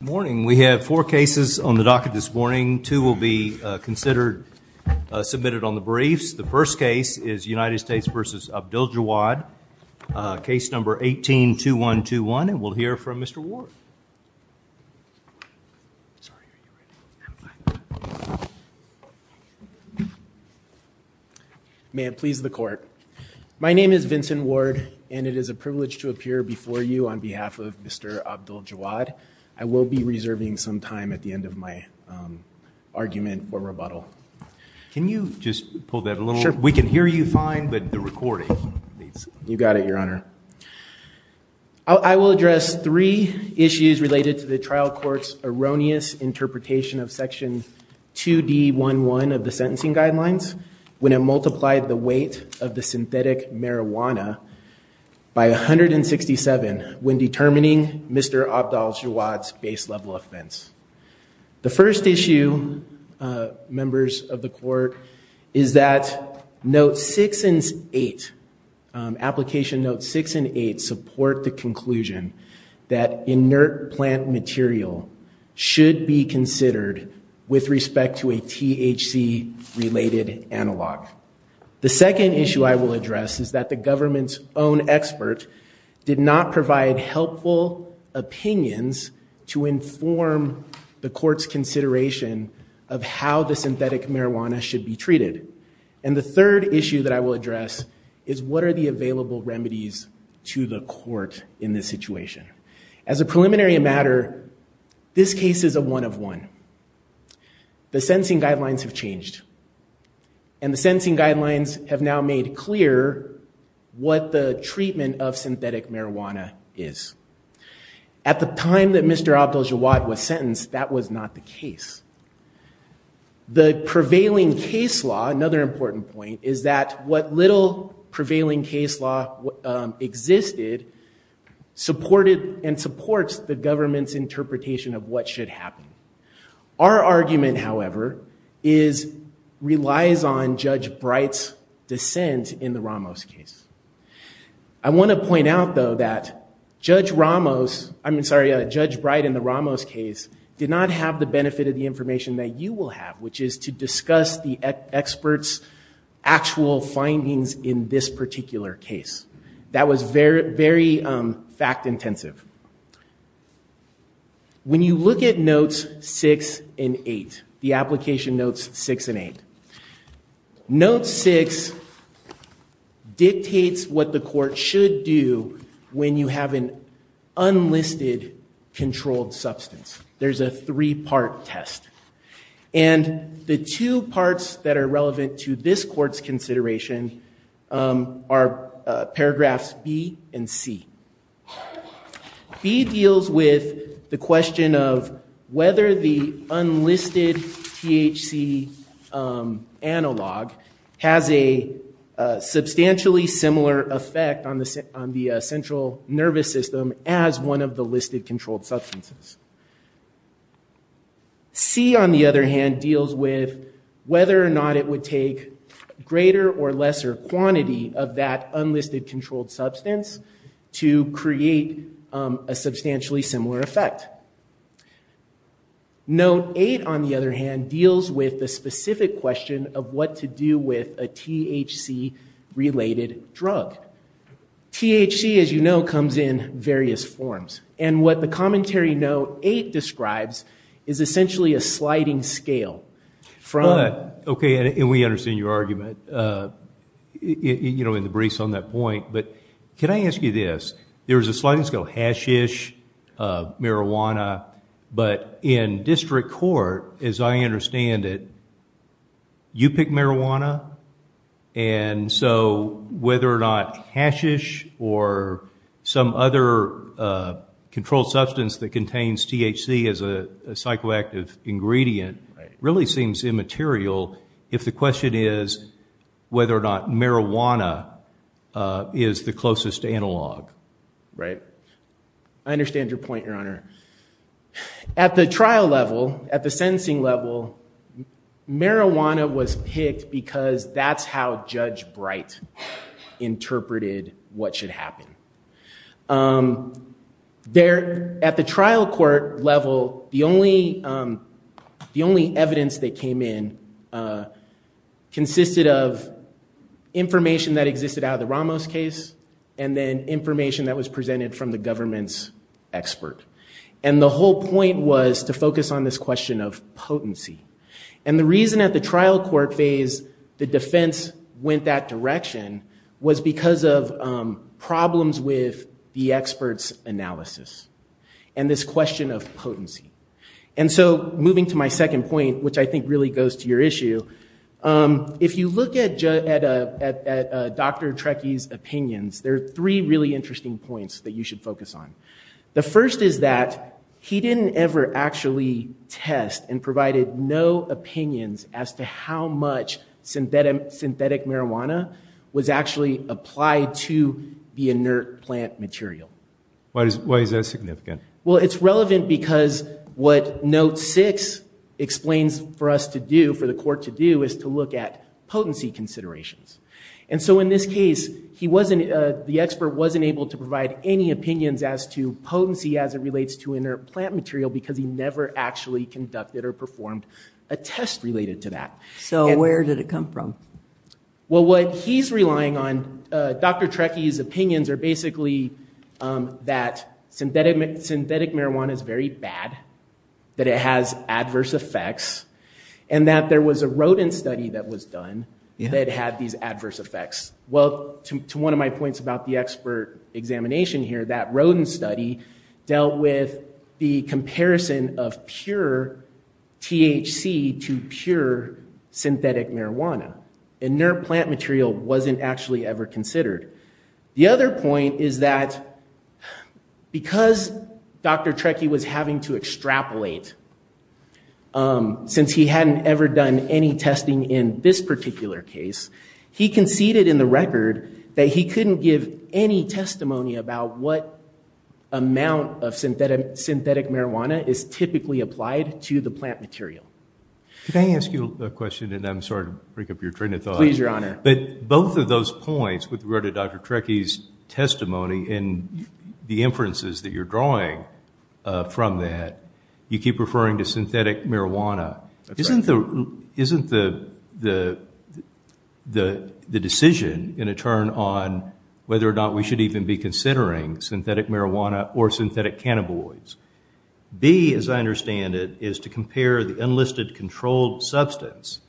Good morning. We have four cases on the docket this morning. Two will be considered, submitted on the briefs. The first case is United States v. Abdeljawad, case number 182121, and we'll hear from Mr. Ward. May it please the court. My name is Vincent Ward, and it is a privilege to appear before you on behalf of Mr. Abdeljawad. I will be reserving some time at the end of my argument or rebuttal. Can you just pull that a little? We can hear you fine, but the recording needs... You got it, Your Honor. I will address three issues related to the trial court's erroneous interpretation of section 2D11 of the sentencing guidelines when it multiplied the weight of the synthetic marijuana by 167 when determining Mr. Abdeljawad's base level offense. The first issue, members of the court, is that note six and eight, application notes six and eight support the conclusion that inert plant material should be considered with respect to a THC related analog. The second issue I will address is that the government's own expert did not provide helpful opinions to inform the court's consideration of how the synthetic marijuana should be treated. And the third issue that I will address is what are the available remedies to the court in this situation. As a preliminary matter, this case is a one-of-one. The sentencing guidelines have changed, and the sentencing guidelines have now made clear what the treatment of synthetic marijuana is. At the time that Mr. Abdeljawad was sentenced, that was not the case. The prevailing case law, another important point, is that what little prevailing case law existed supported and supports the government's interpretation of what should happen. Our argument, however, relies on Judge Bright's dissent in the Ramos case. I want to point out, though, that Judge Bright in the Ramos case did not have the benefit of the information that you will have, which is to discuss the expert's actual findings in this particular case. That was very fact intensive. When you look at notes 6 and 8, the application notes 6 and 8, note 6 dictates what the court should do when you have an unlisted controlled substance. There's a three-part test. And the two parts that are relevant to this court's consideration are paragraphs B and C. B deals with the question of whether the unlisted THC analog has a substantially similar effect on the central nervous system as one of the listed controlled substances. C, on the other hand, deals with whether or not it would take greater or lesser quantity of that unlisted controlled substance to create a substantially similar effect. Note 8, on the other hand, deals with the specific question of what to do with a THC-related drug. THC, as you know, comes in various forms. And what the commentary note 8 describes is essentially a sliding scale from- But, okay, and we understand your argument, you know, in the briefs on that point. But can I ask you this? There's a sliding scale, hashish, marijuana. But in district court, as I understand it, you pick marijuana. And so whether or not hashish or some other controlled substance that contains THC as a psychoactive ingredient really seems immaterial if the question is whether or not marijuana is the closest analog. Right. I understand your point, Your Honor. At the trial level, at the sentencing level, marijuana was picked because that's how Judge Bright interpreted what should happen. At the trial court level, the only evidence that came in consisted of information that existed out of the Ramos case and then information that was presented from the government's expert. And the whole point was to focus on this question of potency. And the reason at the trial court phase the defense went that direction was because of problems with the expert's analysis and this question of potency. And so moving to my second point, which I think really goes to your issue, if you look at Dr. Trecky's opinions, there are three really interesting points that you should focus on. The first is that he didn't ever actually test and provided no opinions as to how much synthetic marijuana was actually applied to the inert plant material. Why is that significant? Well, it's relevant because what Note 6 explains for us to do, for the court to do, is to look at potency considerations. And so in this case, the expert wasn't able to provide any opinions as to potency as it relates to inert plant material because he never actually conducted or performed a test related to that. So where did it come from? Well, what he's relying on, Dr. Trecky's opinions are basically that synthetic marijuana is very bad, that it has adverse effects, and that there was a rodent study that was done that had these adverse effects. Well, to one of my points about the expert examination here, that rodent study dealt with the comparison of pure THC to pure synthetic marijuana. Inert plant material wasn't actually ever considered. The other point is that because Dr. Trecky was having to extrapolate since he hadn't ever done any testing in this particular case, he conceded in the record that he couldn't give any testimony about what amount of synthetic marijuana is typically applied to the plant material. Can I ask you a question? And I'm sorry to break up your train of thought. Please, Your Honor. But both of those points with regard to Dr. Trecky's testimony and the inferences that you're drawing from that, you keep referring to synthetic marijuana. Isn't the decision going to turn on whether or not we should even be considering synthetic marijuana or synthetic cannabinoids? B, as I understand it, is to compare the unlisted controlled substance.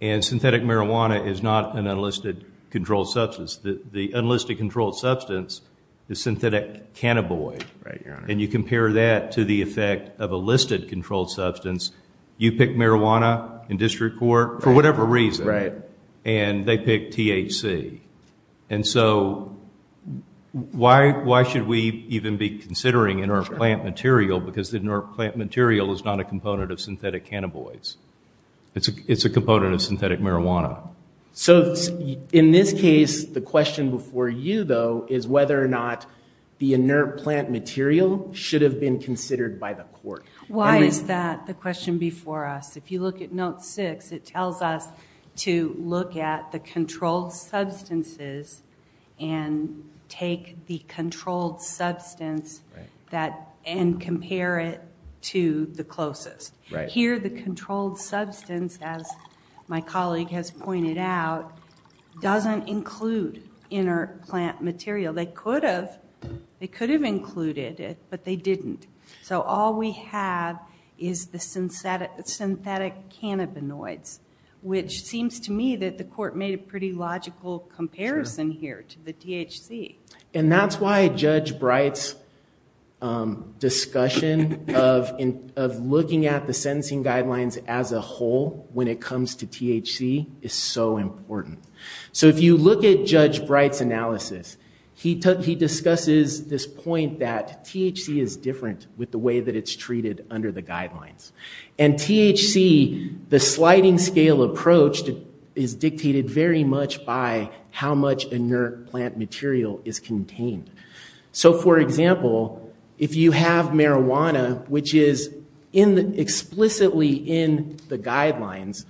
And synthetic marijuana is not an unlisted controlled substance. The unlisted controlled substance is synthetic cannabinoid. Right, Your Honor. And you compare that to the effect of a listed controlled substance. You pick marijuana in district court for whatever reason. Right. And they pick THC. And so why should we even be considering inert plant material because the inert plant material is not a component of synthetic cannabinoids. It's a component of synthetic marijuana. So in this case, the question before you, though, is whether or not the inert plant material should have been considered by the court. Why is that the question before us? If you look at note six, it tells us to look at the controlled substances and take the controlled substance and compare it to the closest. Here, the controlled substance, as my colleague has pointed out, doesn't include inert plant material. They could have included it, but they didn't. So all we have is the synthetic cannabinoids, which seems to me that the court made a pretty logical comparison here to the THC. And that's why Judge Bright's discussion of looking at the sentencing guidelines as a whole when it comes to THC is so important. So if you look at Judge Bright's analysis, he discusses this point that THC is different with the way that it's treated under the guidelines. And THC, the sliding scale approach is dictated very much by how much inert plant material is contained. So for example, if you have marijuana, which is explicitly in the guidelines,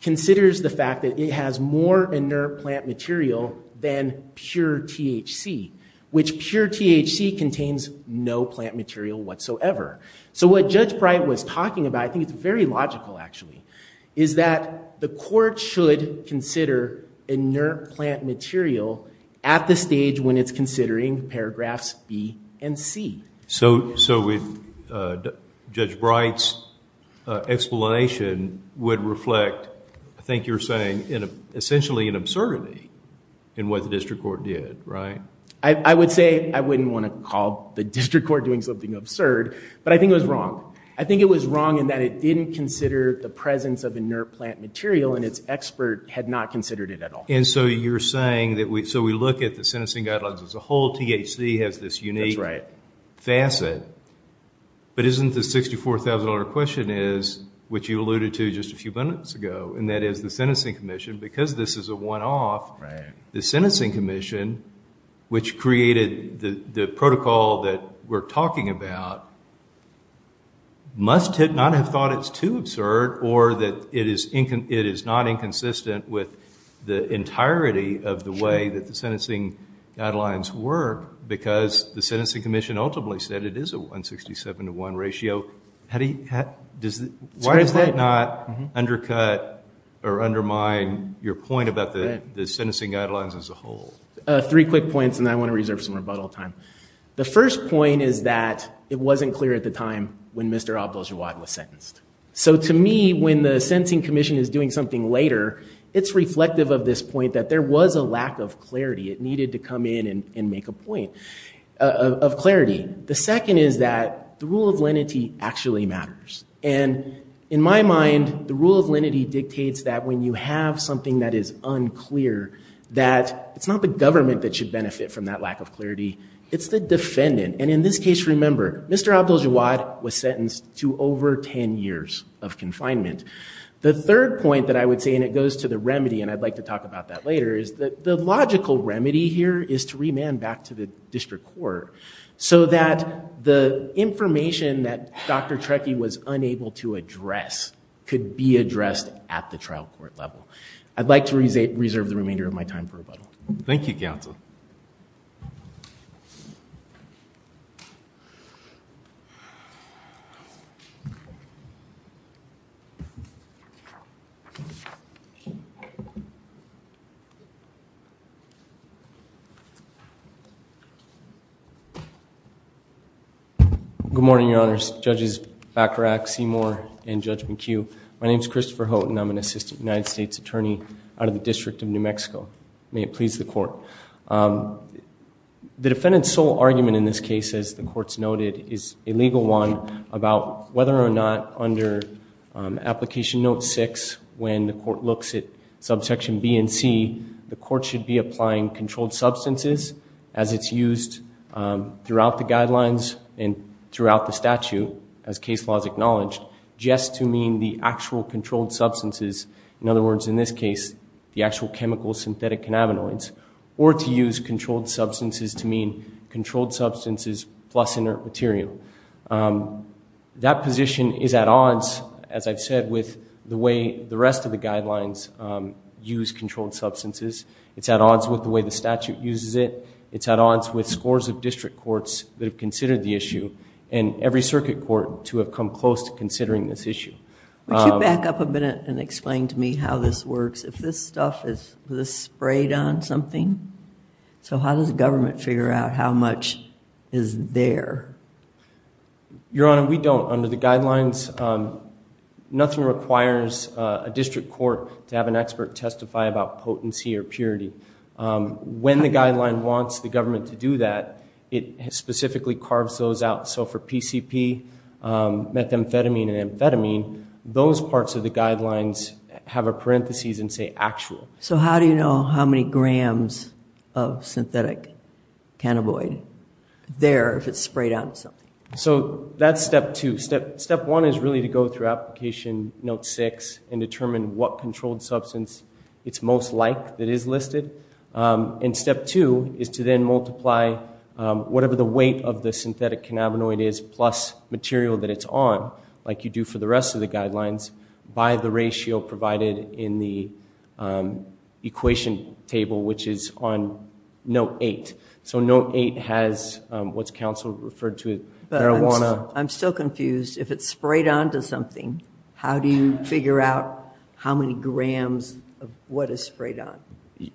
considers the fact that it has more inert plant material than pure THC, which pure THC contains no plant material whatsoever. So what Judge Bright was talking about, I think it's very logical actually, is that the court should consider inert plant material at the stage when it's considering paragraphs B and C. So Judge Bright's explanation would reflect, I think you're saying, essentially an absurdity in what the district court did, right? I would say I wouldn't want to call the district court doing something absurd, but I think it was wrong. I think it was wrong in that it didn't consider the presence of inert plant material and its expert had not considered it at all. And so you're saying that we, so we look at the sentencing guidelines as a whole, THC has this unique facet, but isn't the $64,000 question is, which you alluded to just a few minutes ago, and that is the sentencing commission, because this is a one-off, the sentencing commission must not have thought it's too absurd or that it is not inconsistent with the entirety of the way that the sentencing guidelines work, because the sentencing commission ultimately said it is a 167 to one ratio. How do you, why does that not undercut or undermine your point about the sentencing guidelines as a whole? Three quick points, and then I want to reserve some rebuttal time. The first point is that it wasn't clear at the time when Mr. Abdel-Jawad was sentenced. So to me, when the sentencing commission is doing something later, it's reflective of this point that there was a lack of clarity. It needed to come in and make a point of clarity. The second is that the rule of lenity actually matters. And in my mind, the rule of lenity dictates that when you have something that is unclear, that it's not the government that should benefit from that lack of clarity, it's the defendant. And in this case, remember, Mr. Abdel-Jawad was sentenced to over 10 years of confinement. The third point that I would say, and it goes to the remedy, and I'd like to talk about that later, is that the logical remedy here is to remand back to the district court so that the information that Dr. Trekkie was unable to address could be addressed at the trial court level. I'd like to reserve the remainder of my time for rebuttal. Thank you, counsel. Good morning, Your Honors, Judges Bacharach, Seymour, and Judge McHugh. My name's Christopher Houghton. I'm an assistant United States attorney out of the District of New Mexico. May it please the court. The defendant's sole argument in this case, as the court's noted, is a legal one about whether or not under application note six, when the court looks at subsection B and C, the court should be applying controlled substances as it's used throughout the guidelines and throughout the statute, as case law has acknowledged, just to mean the actual controlled substances. In other words, in this case, the actual chemical synthetic cannabinoids, or to use controlled substances to mean controlled substances plus inert material. That position is at odds, as I've said, with the way the rest of the guidelines use controlled substances. It's at odds with the way the statute uses it. It's at odds with scores of district courts that have considered the issue, and every circuit court to have come close to considering this issue. Would you back up a minute and explain to me how this works? If this stuff is sprayed on something, so how does the government figure out how much is there? Your Honor, we don't. Under the guidelines, nothing requires a district court to have an expert testify about potency or purity. When the guideline wants the government to do that, it specifically carves those out. So for PCP, methamphetamine, and amphetamine, those parts of the guidelines have a parentheses and say actual. So how do you know how many grams of synthetic cannabinoid there if it's sprayed on something? So that's step two. Step one is really to go through application note six and determine what controlled substance it's most like that is listed. And step two is to then multiply whatever the weight of the synthetic cannabinoid is plus material that it's on, like you do for the rest of the guidelines, by the ratio provided in the equation table, which is on note eight. So note eight has what's counsel referred to as marijuana. I'm still confused. If it's sprayed onto something, how do you figure out how many grams of what is sprayed on?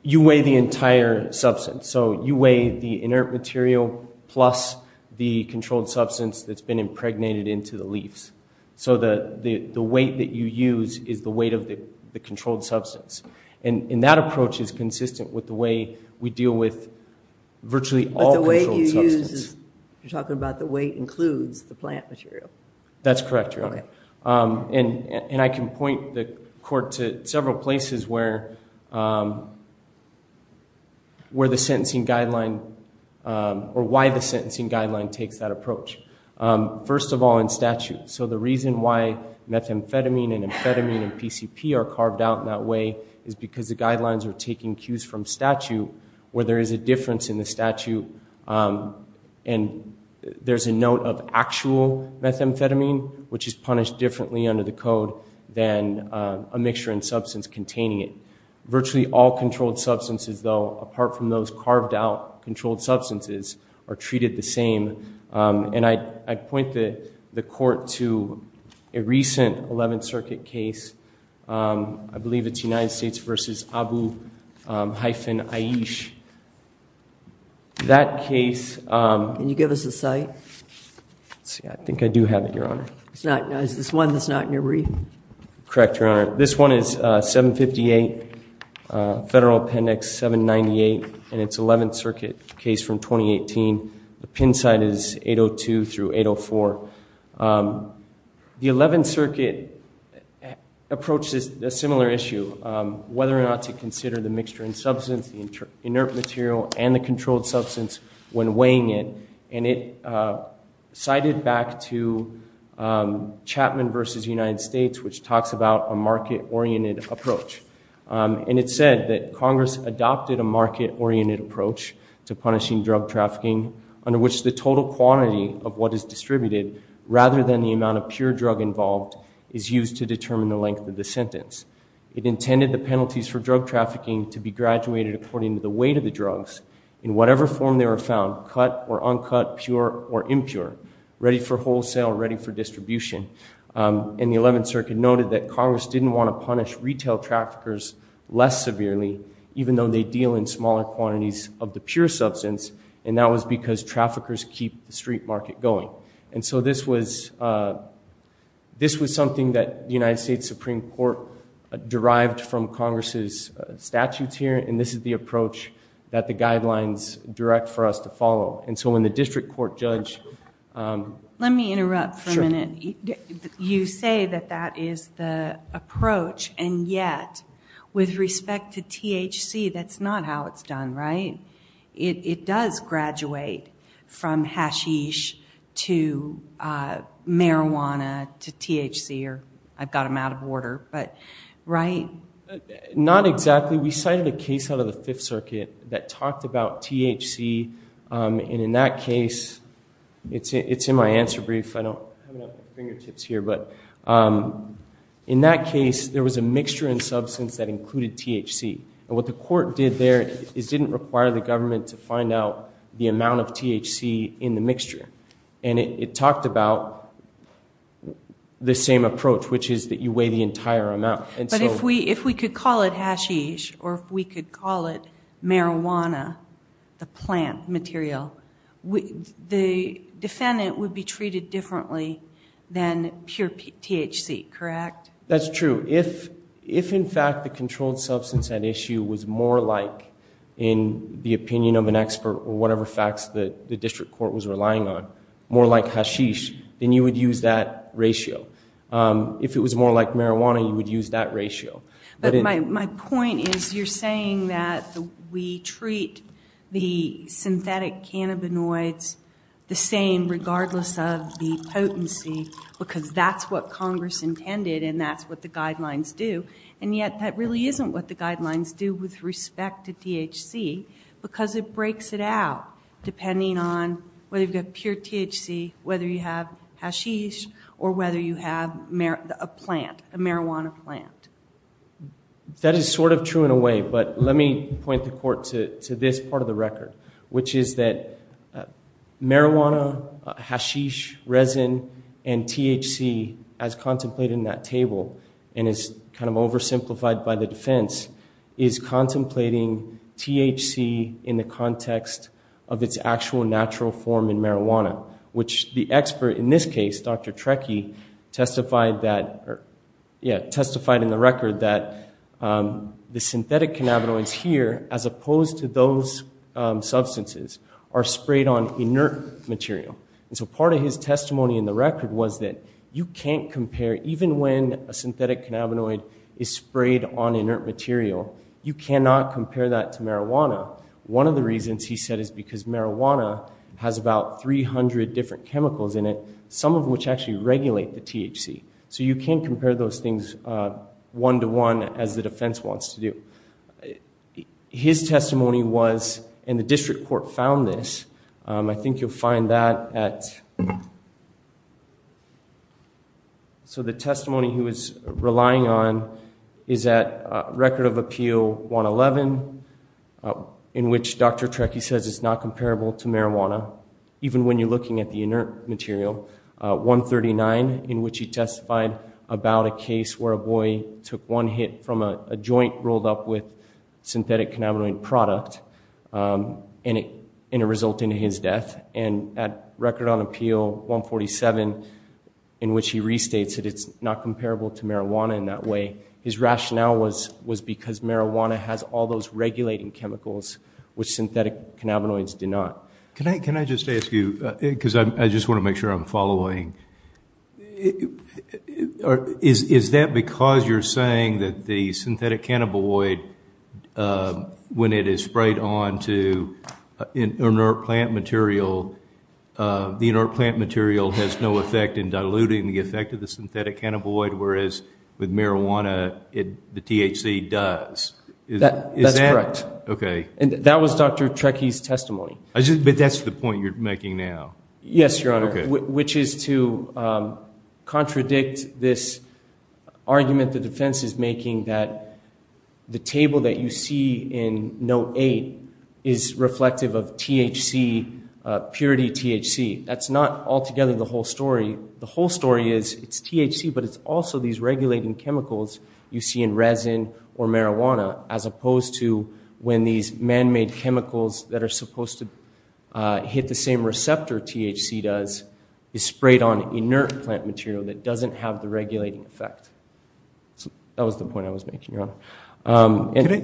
You weigh the entire substance. So you weigh the inert material plus the controlled substance that's been impregnated into the leaves. So the weight that you use is the weight of the controlled substance. And that approach is consistent with the way we deal with virtually all controlled substances. You're talking about the weight includes the plant material. That's correct, Your Honor. And I can point the court to several places where the sentencing guideline or why the sentencing guideline takes that approach. First of all, in statute. So the reason why methamphetamine and amphetamine and PCP are carved out in that way is because the guidelines are taking cues from statute where there is a difference in the statute. And there's a note of actual methamphetamine, which is punished differently under the code than a mixture in substance containing it. Virtually all controlled substances, though, apart from those carved out controlled substances, are treated the same. And I point the court to a recent 11th Circuit case. I believe it's United States versus Abu hyphen Aish. That case. Can you give us the site? I think I do have it, Your Honor. Is this one that's not in your brief? Correct, Your Honor. This one is 758 Federal Appendix 798. And it's 11th Circuit case from 2018. The pin site is 802 through 804. The 11th Circuit approached a similar issue, whether or not to consider the mixture in substance, the inert material, and the controlled substance when weighing it. And it cited back to Chapman versus United States, which talks about a market-oriented approach. And it said that Congress adopted a market-oriented approach to punishing drug trafficking, under which the total quantity of what is distributed, rather than the amount of pure drug involved, is used to determine the length of the sentence. It intended the penalties for drug trafficking to be graduated according to the weight of the drugs, in whatever form they were found, cut or uncut, pure or impure, ready for wholesale, ready for distribution. And the 11th Circuit noted that Congress didn't want to punish retail traffickers less severely, even though they deal in smaller quantities of the pure substance. And that was because traffickers keep the street market going. And so this was something that the United States Supreme Court derived from Congress's statutes here. And this is the approach that the guidelines direct for us to follow. And so when the district court judge- Let me interrupt for a minute. You say that that is the approach. And yet, with respect to THC, that's not how it's done, right? It does graduate from hashish to marijuana to THC, or I've got them out of order, but right? Not exactly. We cited a case out of the Fifth Circuit that talked about THC. And in that case, it's in my answer brief. I don't have it at my fingertips here. But in that case, there was a mixture in substance that included THC. And what the court did there is didn't require the government to find out the amount of THC in the mixture. And it talked about the same approach, which is that you weigh the entire amount. But if we could call it hashish, or if we could call it marijuana, the plant material, the defendant would be treated differently than pure THC, correct? That's true. If, in fact, the controlled substance at issue was more like, in the opinion of an expert, or whatever facts that the district court was relying on, more like hashish, then you would use that ratio. If it was more like marijuana, you would use that ratio. But my point is you're saying that we treat the synthetic cannabinoids the same, regardless of the potency, because that's what Congress intended. And that's what the guidelines do. And yet, that really isn't what the guidelines do with respect to THC, because it breaks it out depending on whether you've got pure THC, whether you have hashish, or whether you have a plant, a marijuana plant. That is sort of true in a way. But let me point the court to this part of the record, which is that marijuana, hashish, resin, and THC, as contemplated in that table, and is kind of oversimplified by the defense, is contemplating THC in the context of its actual natural form in marijuana. Which the expert, in this case, Dr. Trekkie, testified in the record that the synthetic cannabinoids here, as opposed to those substances, are sprayed on inert material. And so part of his testimony in the record was that you can't compare, even when a synthetic cannabinoid is sprayed on inert material, you cannot compare that to marijuana. One of the reasons, he said, is because marijuana has about 300 different chemicals in it, some of which actually regulate the THC. So you can't compare those things one-to-one as the defense wants to do. His testimony was, and the district court found this. I think you'll find that at, so the testimony he was relying on is at Record of Appeal 111, in which Dr. Trekkie says it's not comparable to marijuana. Even when you're looking at the inert material. 139, in which he testified about a case where a boy took one hit from a joint rolled up with synthetic cannabinoid product, and it resulted in his death. And at Record of Appeal 147, in which he restates that it's not comparable to marijuana in that way, his rationale was because marijuana has all those regulating chemicals, which synthetic cannabinoids do not. Can I just ask you, because I just want to make sure I'm following. Is that because you're saying that the synthetic cannabinoid, when it is sprayed onto inert plant material, the inert plant material has no effect in diluting the effect of the synthetic cannabinoid, whereas with marijuana, the THC does. Is that? That's correct. Okay. And that was Dr. Trekkie's testimony. But that's the point you're making now. Yes, Your Honor, which is to contradict this argument the defense is making that the table that you see in Note 8 is reflective of THC, purity THC. That's not altogether the whole story. The whole story is it's THC, but it's also these regulating chemicals you see in resin or marijuana, as opposed to when these man-made chemicals that are supposed to hit the same receptor THC does is sprayed on inert plant material that doesn't have the regulating effect. So that was the point I was making, Your Honor.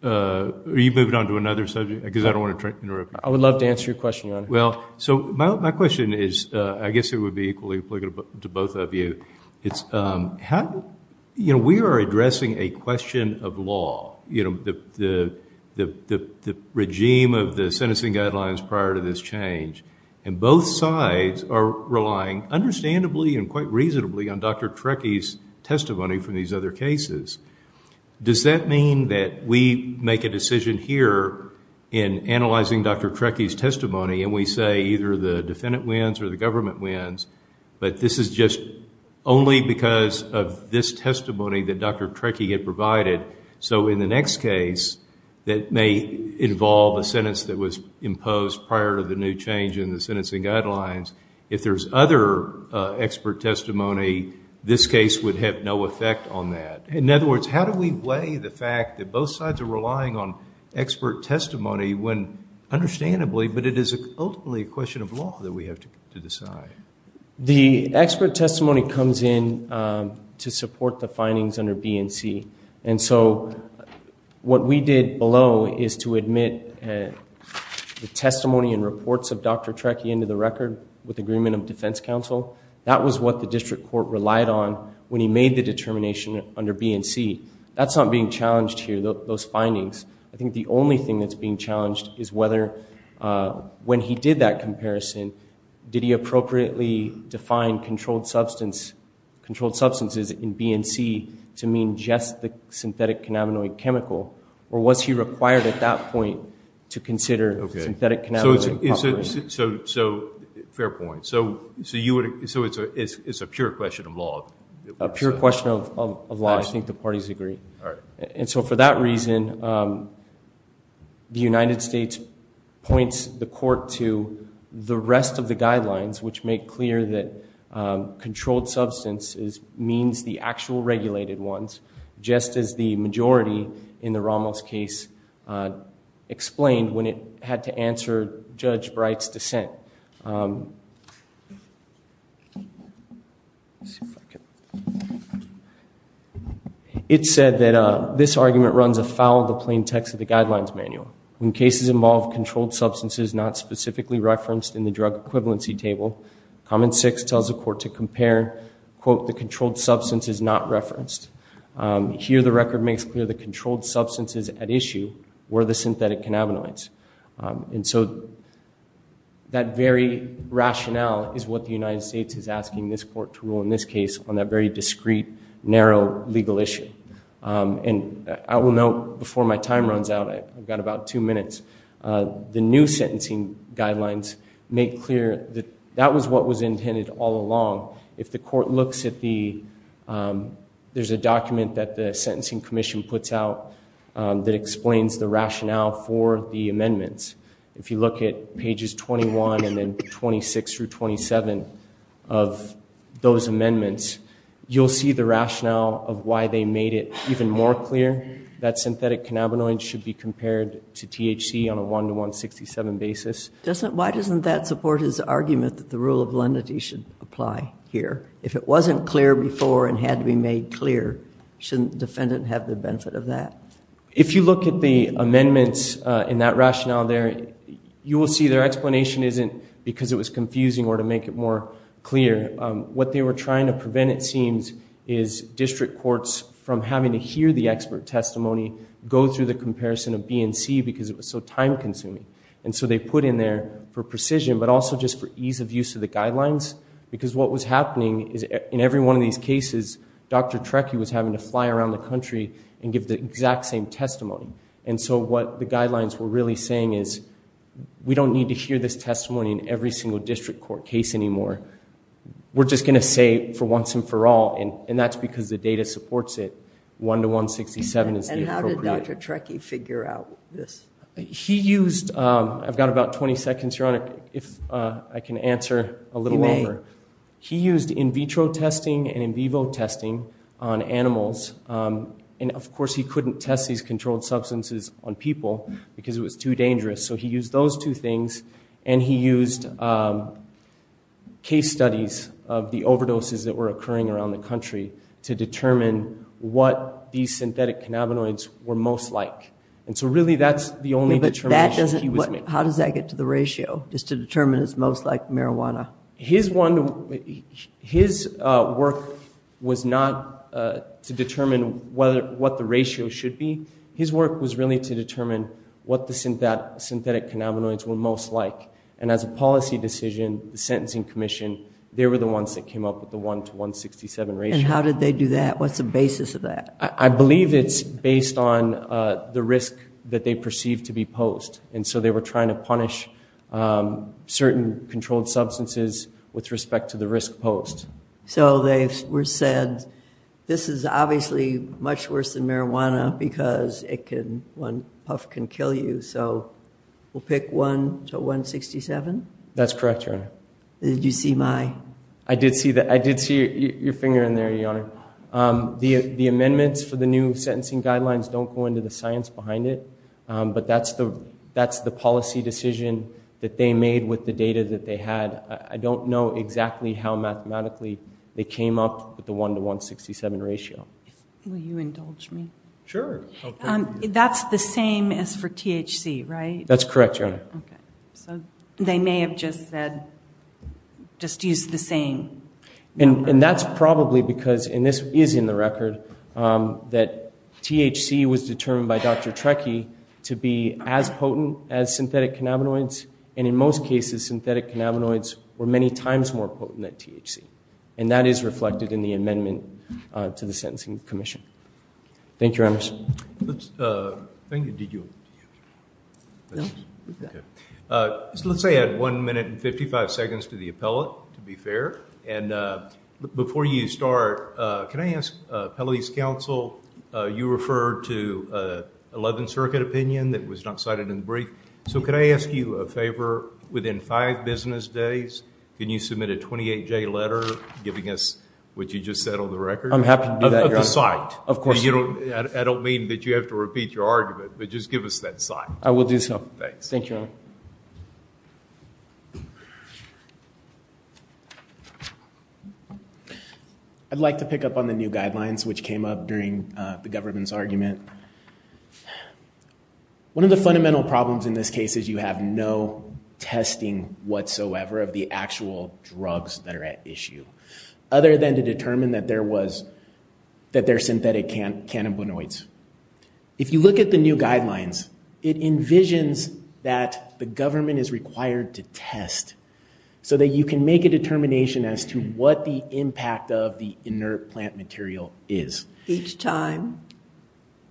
Are you moving on to another subject? Because I don't want to interrupt you. I would love to answer your question, Your Honor. Well, so my question is, I guess it would be equally applicable to both of you. It's how, you know, we are addressing a question of law. You know, the regime of the sentencing guidelines prior to this change, and both sides are relying understandably and quite reasonably on Dr. Trekkie's testimony from these other cases. Does that mean that we make a decision here in analyzing Dr. Trekkie's testimony and we say either the defendant wins or the government wins, but this is just only because of this testimony that Dr. Trekkie had provided? So in the next case that may involve a sentence that was imposed prior to the new change in the sentencing guidelines, if there's other expert testimony, this case would have no effect on that? In other words, how do we weigh the fact that both sides are relying on expert testimony when understandably, but it is ultimately a question of law that we have to decide? The expert testimony comes in to support the findings under B and C, and so what we did below is to admit the testimony and reports of Dr. Trekkie into the record with agreement of defense counsel. That was what the district court relied on when he made the determination under B and C. That's not being challenged here, those findings. I think the only thing that's being challenged is whether when he did that comparison, did he appropriately define controlled substances in B and C to mean just the synthetic cannabinoid chemical, or was he required at that point to consider synthetic cannabinoid properties? So fair point. So it's a pure question of law? A pure question of law, I think the parties agree. All right. And so for that reason, the United States points the court to the rest of the guidelines, which make clear that controlled substances means the actual regulated ones, just as the majority in the Ramos case explained when it had to answer Judge Bright's dissent. It said that this argument runs afoul of the plain text of the guidelines manual. When cases involve controlled substances not specifically referenced in the drug equivalency table, comment six tells the court to compare, quote, the controlled substances not referenced. Here the record makes clear the controlled substances at issue were the synthetic cannabinoids. And so that very rationale is what the United States is asking this court to rule in this case on that very discreet, narrow legal issue. And I will note, before my time runs out, I've got about two minutes, the new sentencing guidelines make clear that that was what was intended all along. If the court looks at the, there's a document that the Sentencing Commission puts out that explains the rationale for the amendments. If you look at pages 21 and then 26 through 27 of those amendments, you'll see the rationale of why they made it even more clear that synthetic cannabinoids should be compared to THC on a 1 to 167 basis. Why doesn't that support his argument that the rule of lenity should apply here? If it wasn't clear before and had to be made clear, shouldn't the defendant have the benefit of that? If you look at the amendments in that rationale there, you will see their explanation isn't because it was confusing or to make it more clear. What they were trying to prevent, it seems, is district courts from having to hear the expert testimony go through the comparison of B and C because it was so time consuming. And so they put in there for precision, but also just for ease of use of the guidelines. Because what was happening is in every one of these cases, Dr. Trecky was having to fly around the country and give the exact same testimony. And so what the guidelines were really saying is, we don't need to hear this testimony in every single district court case anymore. We're just going to say it for once and for all. And that's because the data supports it. 1 to 167 is the appropriate...... And how did Dr. Trecky figure out this? He used... I've got about 20 seconds, Your Honor, if I can answer a little longer. He used in vitro testing and in vivo testing on animals. And, of course, he couldn't test these controlled substances on people because it was too dangerous. So he used those two things. And he used case studies of the overdoses that were occurring around the country to determine what these synthetic cannabinoids were most like. And so really that's the only determination he was making. How does that get to the ratio, just to determine it's most like marijuana? His work was not to determine what the ratio should be. His work was really to determine what the synthetic cannabinoids were most like. And as a policy decision, the Sentencing Commission, they were the ones that came up with the 1 to 167 ratio. And how did they do that? What's the basis of that? I believe it's based on the risk that they perceived to be posed. And so they were trying to punish certain controlled substances with respect to the risk posed. So they were said, this is obviously much worse than marijuana because one puff can kill you. So we'll pick 1 to 167? That's correct, Your Honor. Did you see my? I did see your finger in there, Your Honor. The amendments for the new sentencing guidelines don't go into the science behind it. But that's the policy decision that they made with the data that they had. I don't know exactly how mathematically they came up with the 1 to 167 ratio. Will you indulge me? Sure. That's the same as for THC, right? That's correct, Your Honor. So they may have just said, just use the same. And that's probably because, and this is in the record, that THC was determined by Dr. Trekkie to be as potent as synthetic cannabinoids. And in most cases, synthetic cannabinoids were many times more potent than THC. And that is reflected in the amendment to the sentencing commission. Thank you, Your Honors. Thank you. Did you? No. Let's say I had 1 minute and 55 seconds to the appellate, to be fair. And before you start, can I ask appellate's counsel, you referred to 11th Circuit opinion that was not cited in the brief. So could I ask you a favor? Within five business days, can you submit a 28-J letter, giving us what you just said on the record? I'm happy to do that, Your Honor. Of the site. Of course. I don't mean that you have to repeat your argument, but just give us that site. I will do so. Thanks. Thank you, Your Honor. I'd like to pick up on the new guidelines, which came up during the government's argument. One of the fundamental problems in this case is you have no testing whatsoever of the actual drugs that are at issue, other than to determine that they're synthetic cannabinoids. If you look at the new guidelines, it envisions that the government is required to test so that you can make a determination as to what the impact of the inert plant material is. Each time.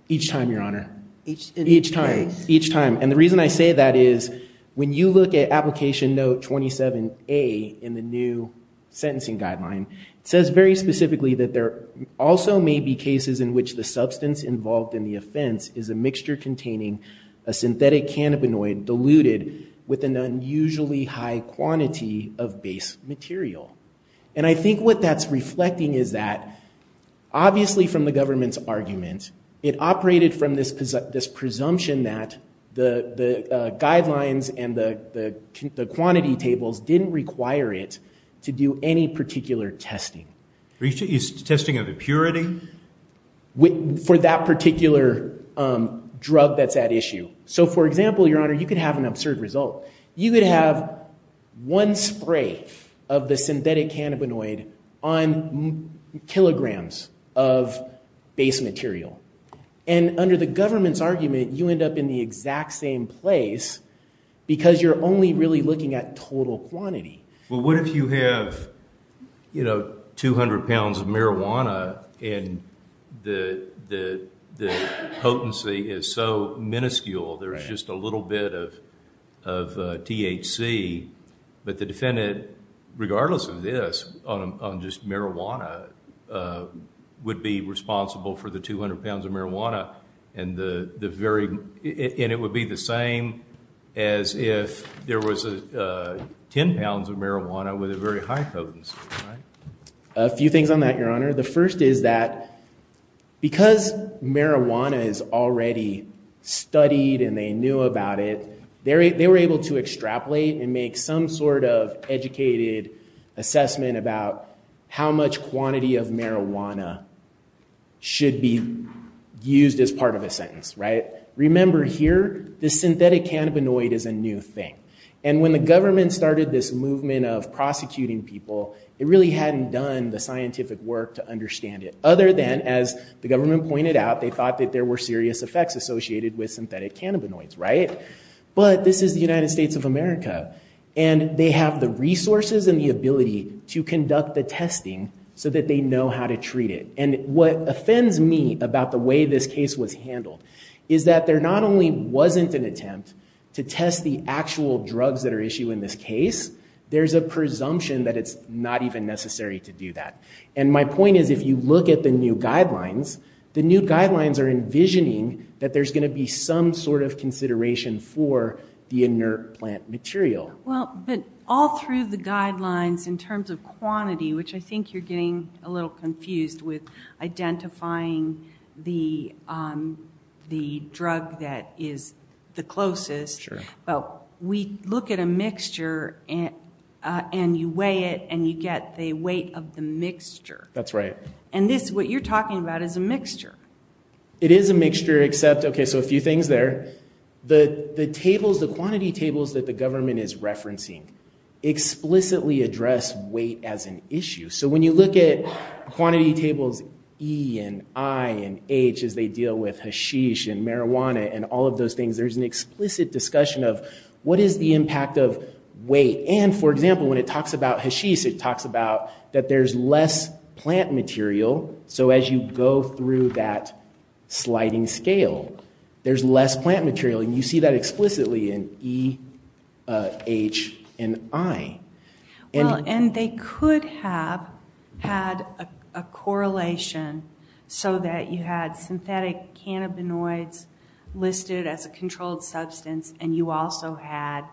Each time, Your Honor. Each time. Each time. And the reason I say that is, when you look at application note 27A in the new sentencing guideline, it says very specifically that there also may be cases in which the substance involved in the offense is a mixture containing a synthetic cannabinoid diluted with an unusually high quantity of base material. And I think what that's reflecting is that, obviously from the government's argument, it operated from this presumption that the guidelines and the quantity tables didn't require it to do any particular testing. Is testing of impurity? For that particular drug that's at issue. So for example, Your Honor, you could have an absurd result. You could have one spray of the synthetic cannabinoid on kilograms of base material. And under the government's argument, you end up in the exact same place because you're only really looking at total quantity. Well, what if you have 200 pounds of marijuana and the potency is so minuscule, there's just a little bit of THC. But the defendant, regardless of this, on just marijuana, would be responsible for the 200 pounds of marijuana. And it would be the same as if there was 10 pounds of marijuana with a very high potency. A few things on that, Your Honor. The first is that because marijuana is already studied and they knew about it, they were able to extrapolate and make some sort of educated assessment about how much quantity of marijuana should be used as part of a sentence. Remember here, the synthetic cannabinoid is a new thing. And when the government started this movement of prosecuting people, it really hadn't done the scientific work to understand it. Other than, as the government pointed out, they thought that there were serious effects associated with synthetic cannabinoids, right? But this is the United States of America. And they have the resources and the ability to conduct the testing so that they know how to treat it. And what offends me about the way this case was handled is that there not only wasn't an attempt to test the actual drugs that are issued in this case, there's a presumption that it's not even necessary to do that. And my point is, if you look at the new guidelines, the new guidelines are envisioning that there's going to be some sort of consideration for the inert plant material. Well, but all through the guidelines in terms of quantity, which I think you're getting a little confused with, identifying the drug that is the closest. But we look at a mixture and you weigh it and you get the weight of the mixture. That's right. And this, what you're talking about, is a mixture. It is a mixture, except, OK, so a few things there. The tables, the quantity tables that the government is referencing explicitly address weight as an issue. So when you look at quantity tables E and I and H as they deal with hashish and marijuana and all of those things, there's an explicit discussion of what is the impact of weight. And, for example, when it talks about hashish, it talks about that there's less plant material. So as you go through that sliding scale, there's less plant material. And you see that explicitly in E, H, and I. Well, and they could have had a correlation so that you had synthetic cannabinoids listed as a controlled substance and you also had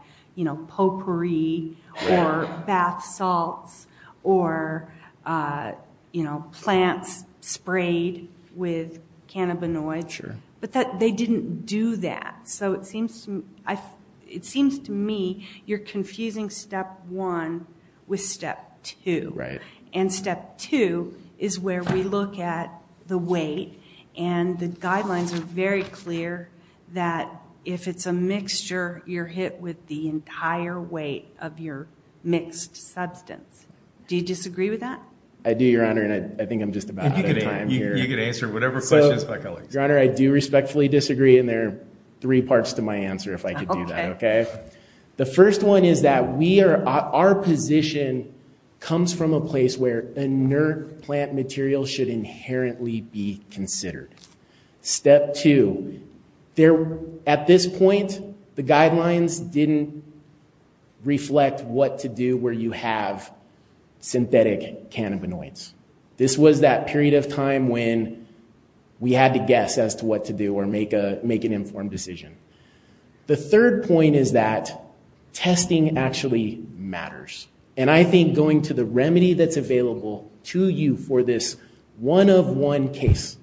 potpourri or bath salts or plants sprayed with cannabinoids. But they didn't do that. So it seems to me you're confusing step one with step two. And step two is where we look at the weight. And the guidelines are very clear that, if it's a mixture, you're hit with the entire weight of your mixed substance. Do you disagree with that? I do, Your Honor, and I think I'm just about out of time here. You can answer whatever questions, if I can. Your Honor, I do respectfully disagree. And there are three parts to my answer, if I could do that, OK? The first one is that our position comes from a place where inert plant material should inherently be considered. Step two, at this point, the guidelines didn't reflect what to do where you have synthetic cannabinoids. This was that period of time when we had to guess as to what to do or make an informed decision. The third point is that testing actually matters. And I think going to the remedy that's available to you for this one-of-one case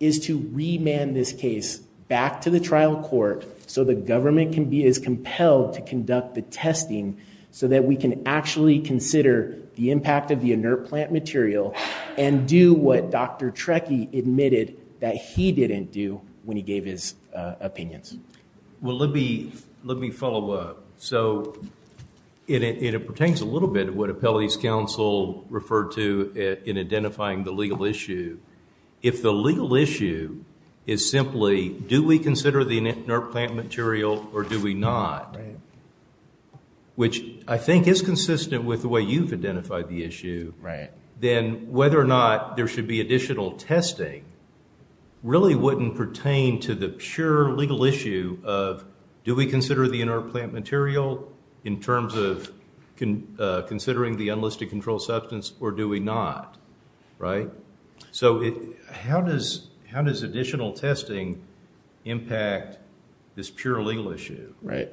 is to remand this case back to the trial court so the government can be as compelled to conduct the testing so that we can actually consider the impact of the inert plant material and do what Dr. Trekkie admitted that he didn't do when he gave his opinions. Well, let me follow up. So, and it pertains a little bit to what Appellee's counsel referred to in identifying the legal issue. If the legal issue is simply, do we consider the inert plant material or do we not, which I think is consistent with the way you've identified the issue, then whether or not there should be additional testing really wouldn't pertain to the pure legal issue of do we consider the inert plant material in terms of considering the unlisted control substance or do we not, right? So, how does additional testing impact this pure legal issue? Right.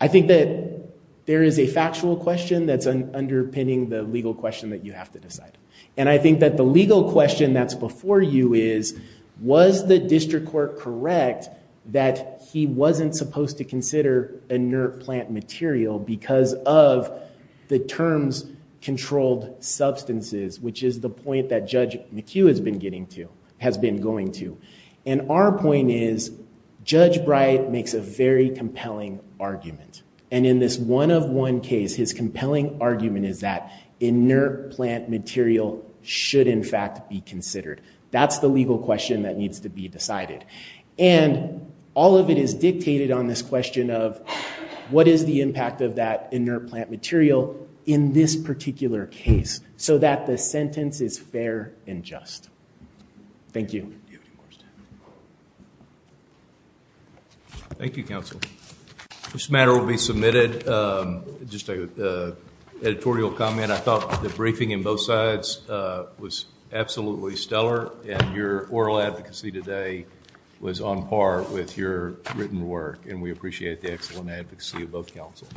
I think that there is a factual question that's underpinning the legal question that you have to decide. And I think that the legal question that's before you is, was the district court correct that he wasn't supposed to consider inert plant material because of the terms controlled substances, which is the point that Judge McHugh has been getting to, has been going to. And our point is, Judge Bright makes a very compelling argument. And in this one-of-one case, his compelling argument is that inert plant material should, in fact, be considered. That's the legal question that needs to be decided. And all of it is dictated on this question of what is the impact of that inert plant material in this particular case so that the sentence is fair and just. Thank you. Do you have any more questions? Thank you, counsel. This matter will be submitted. Just an editorial comment. I thought the briefing in both sides was absolutely stellar. And your oral advocacy today was on par with your written work. And we appreciate the excellent advocacy of both counsels.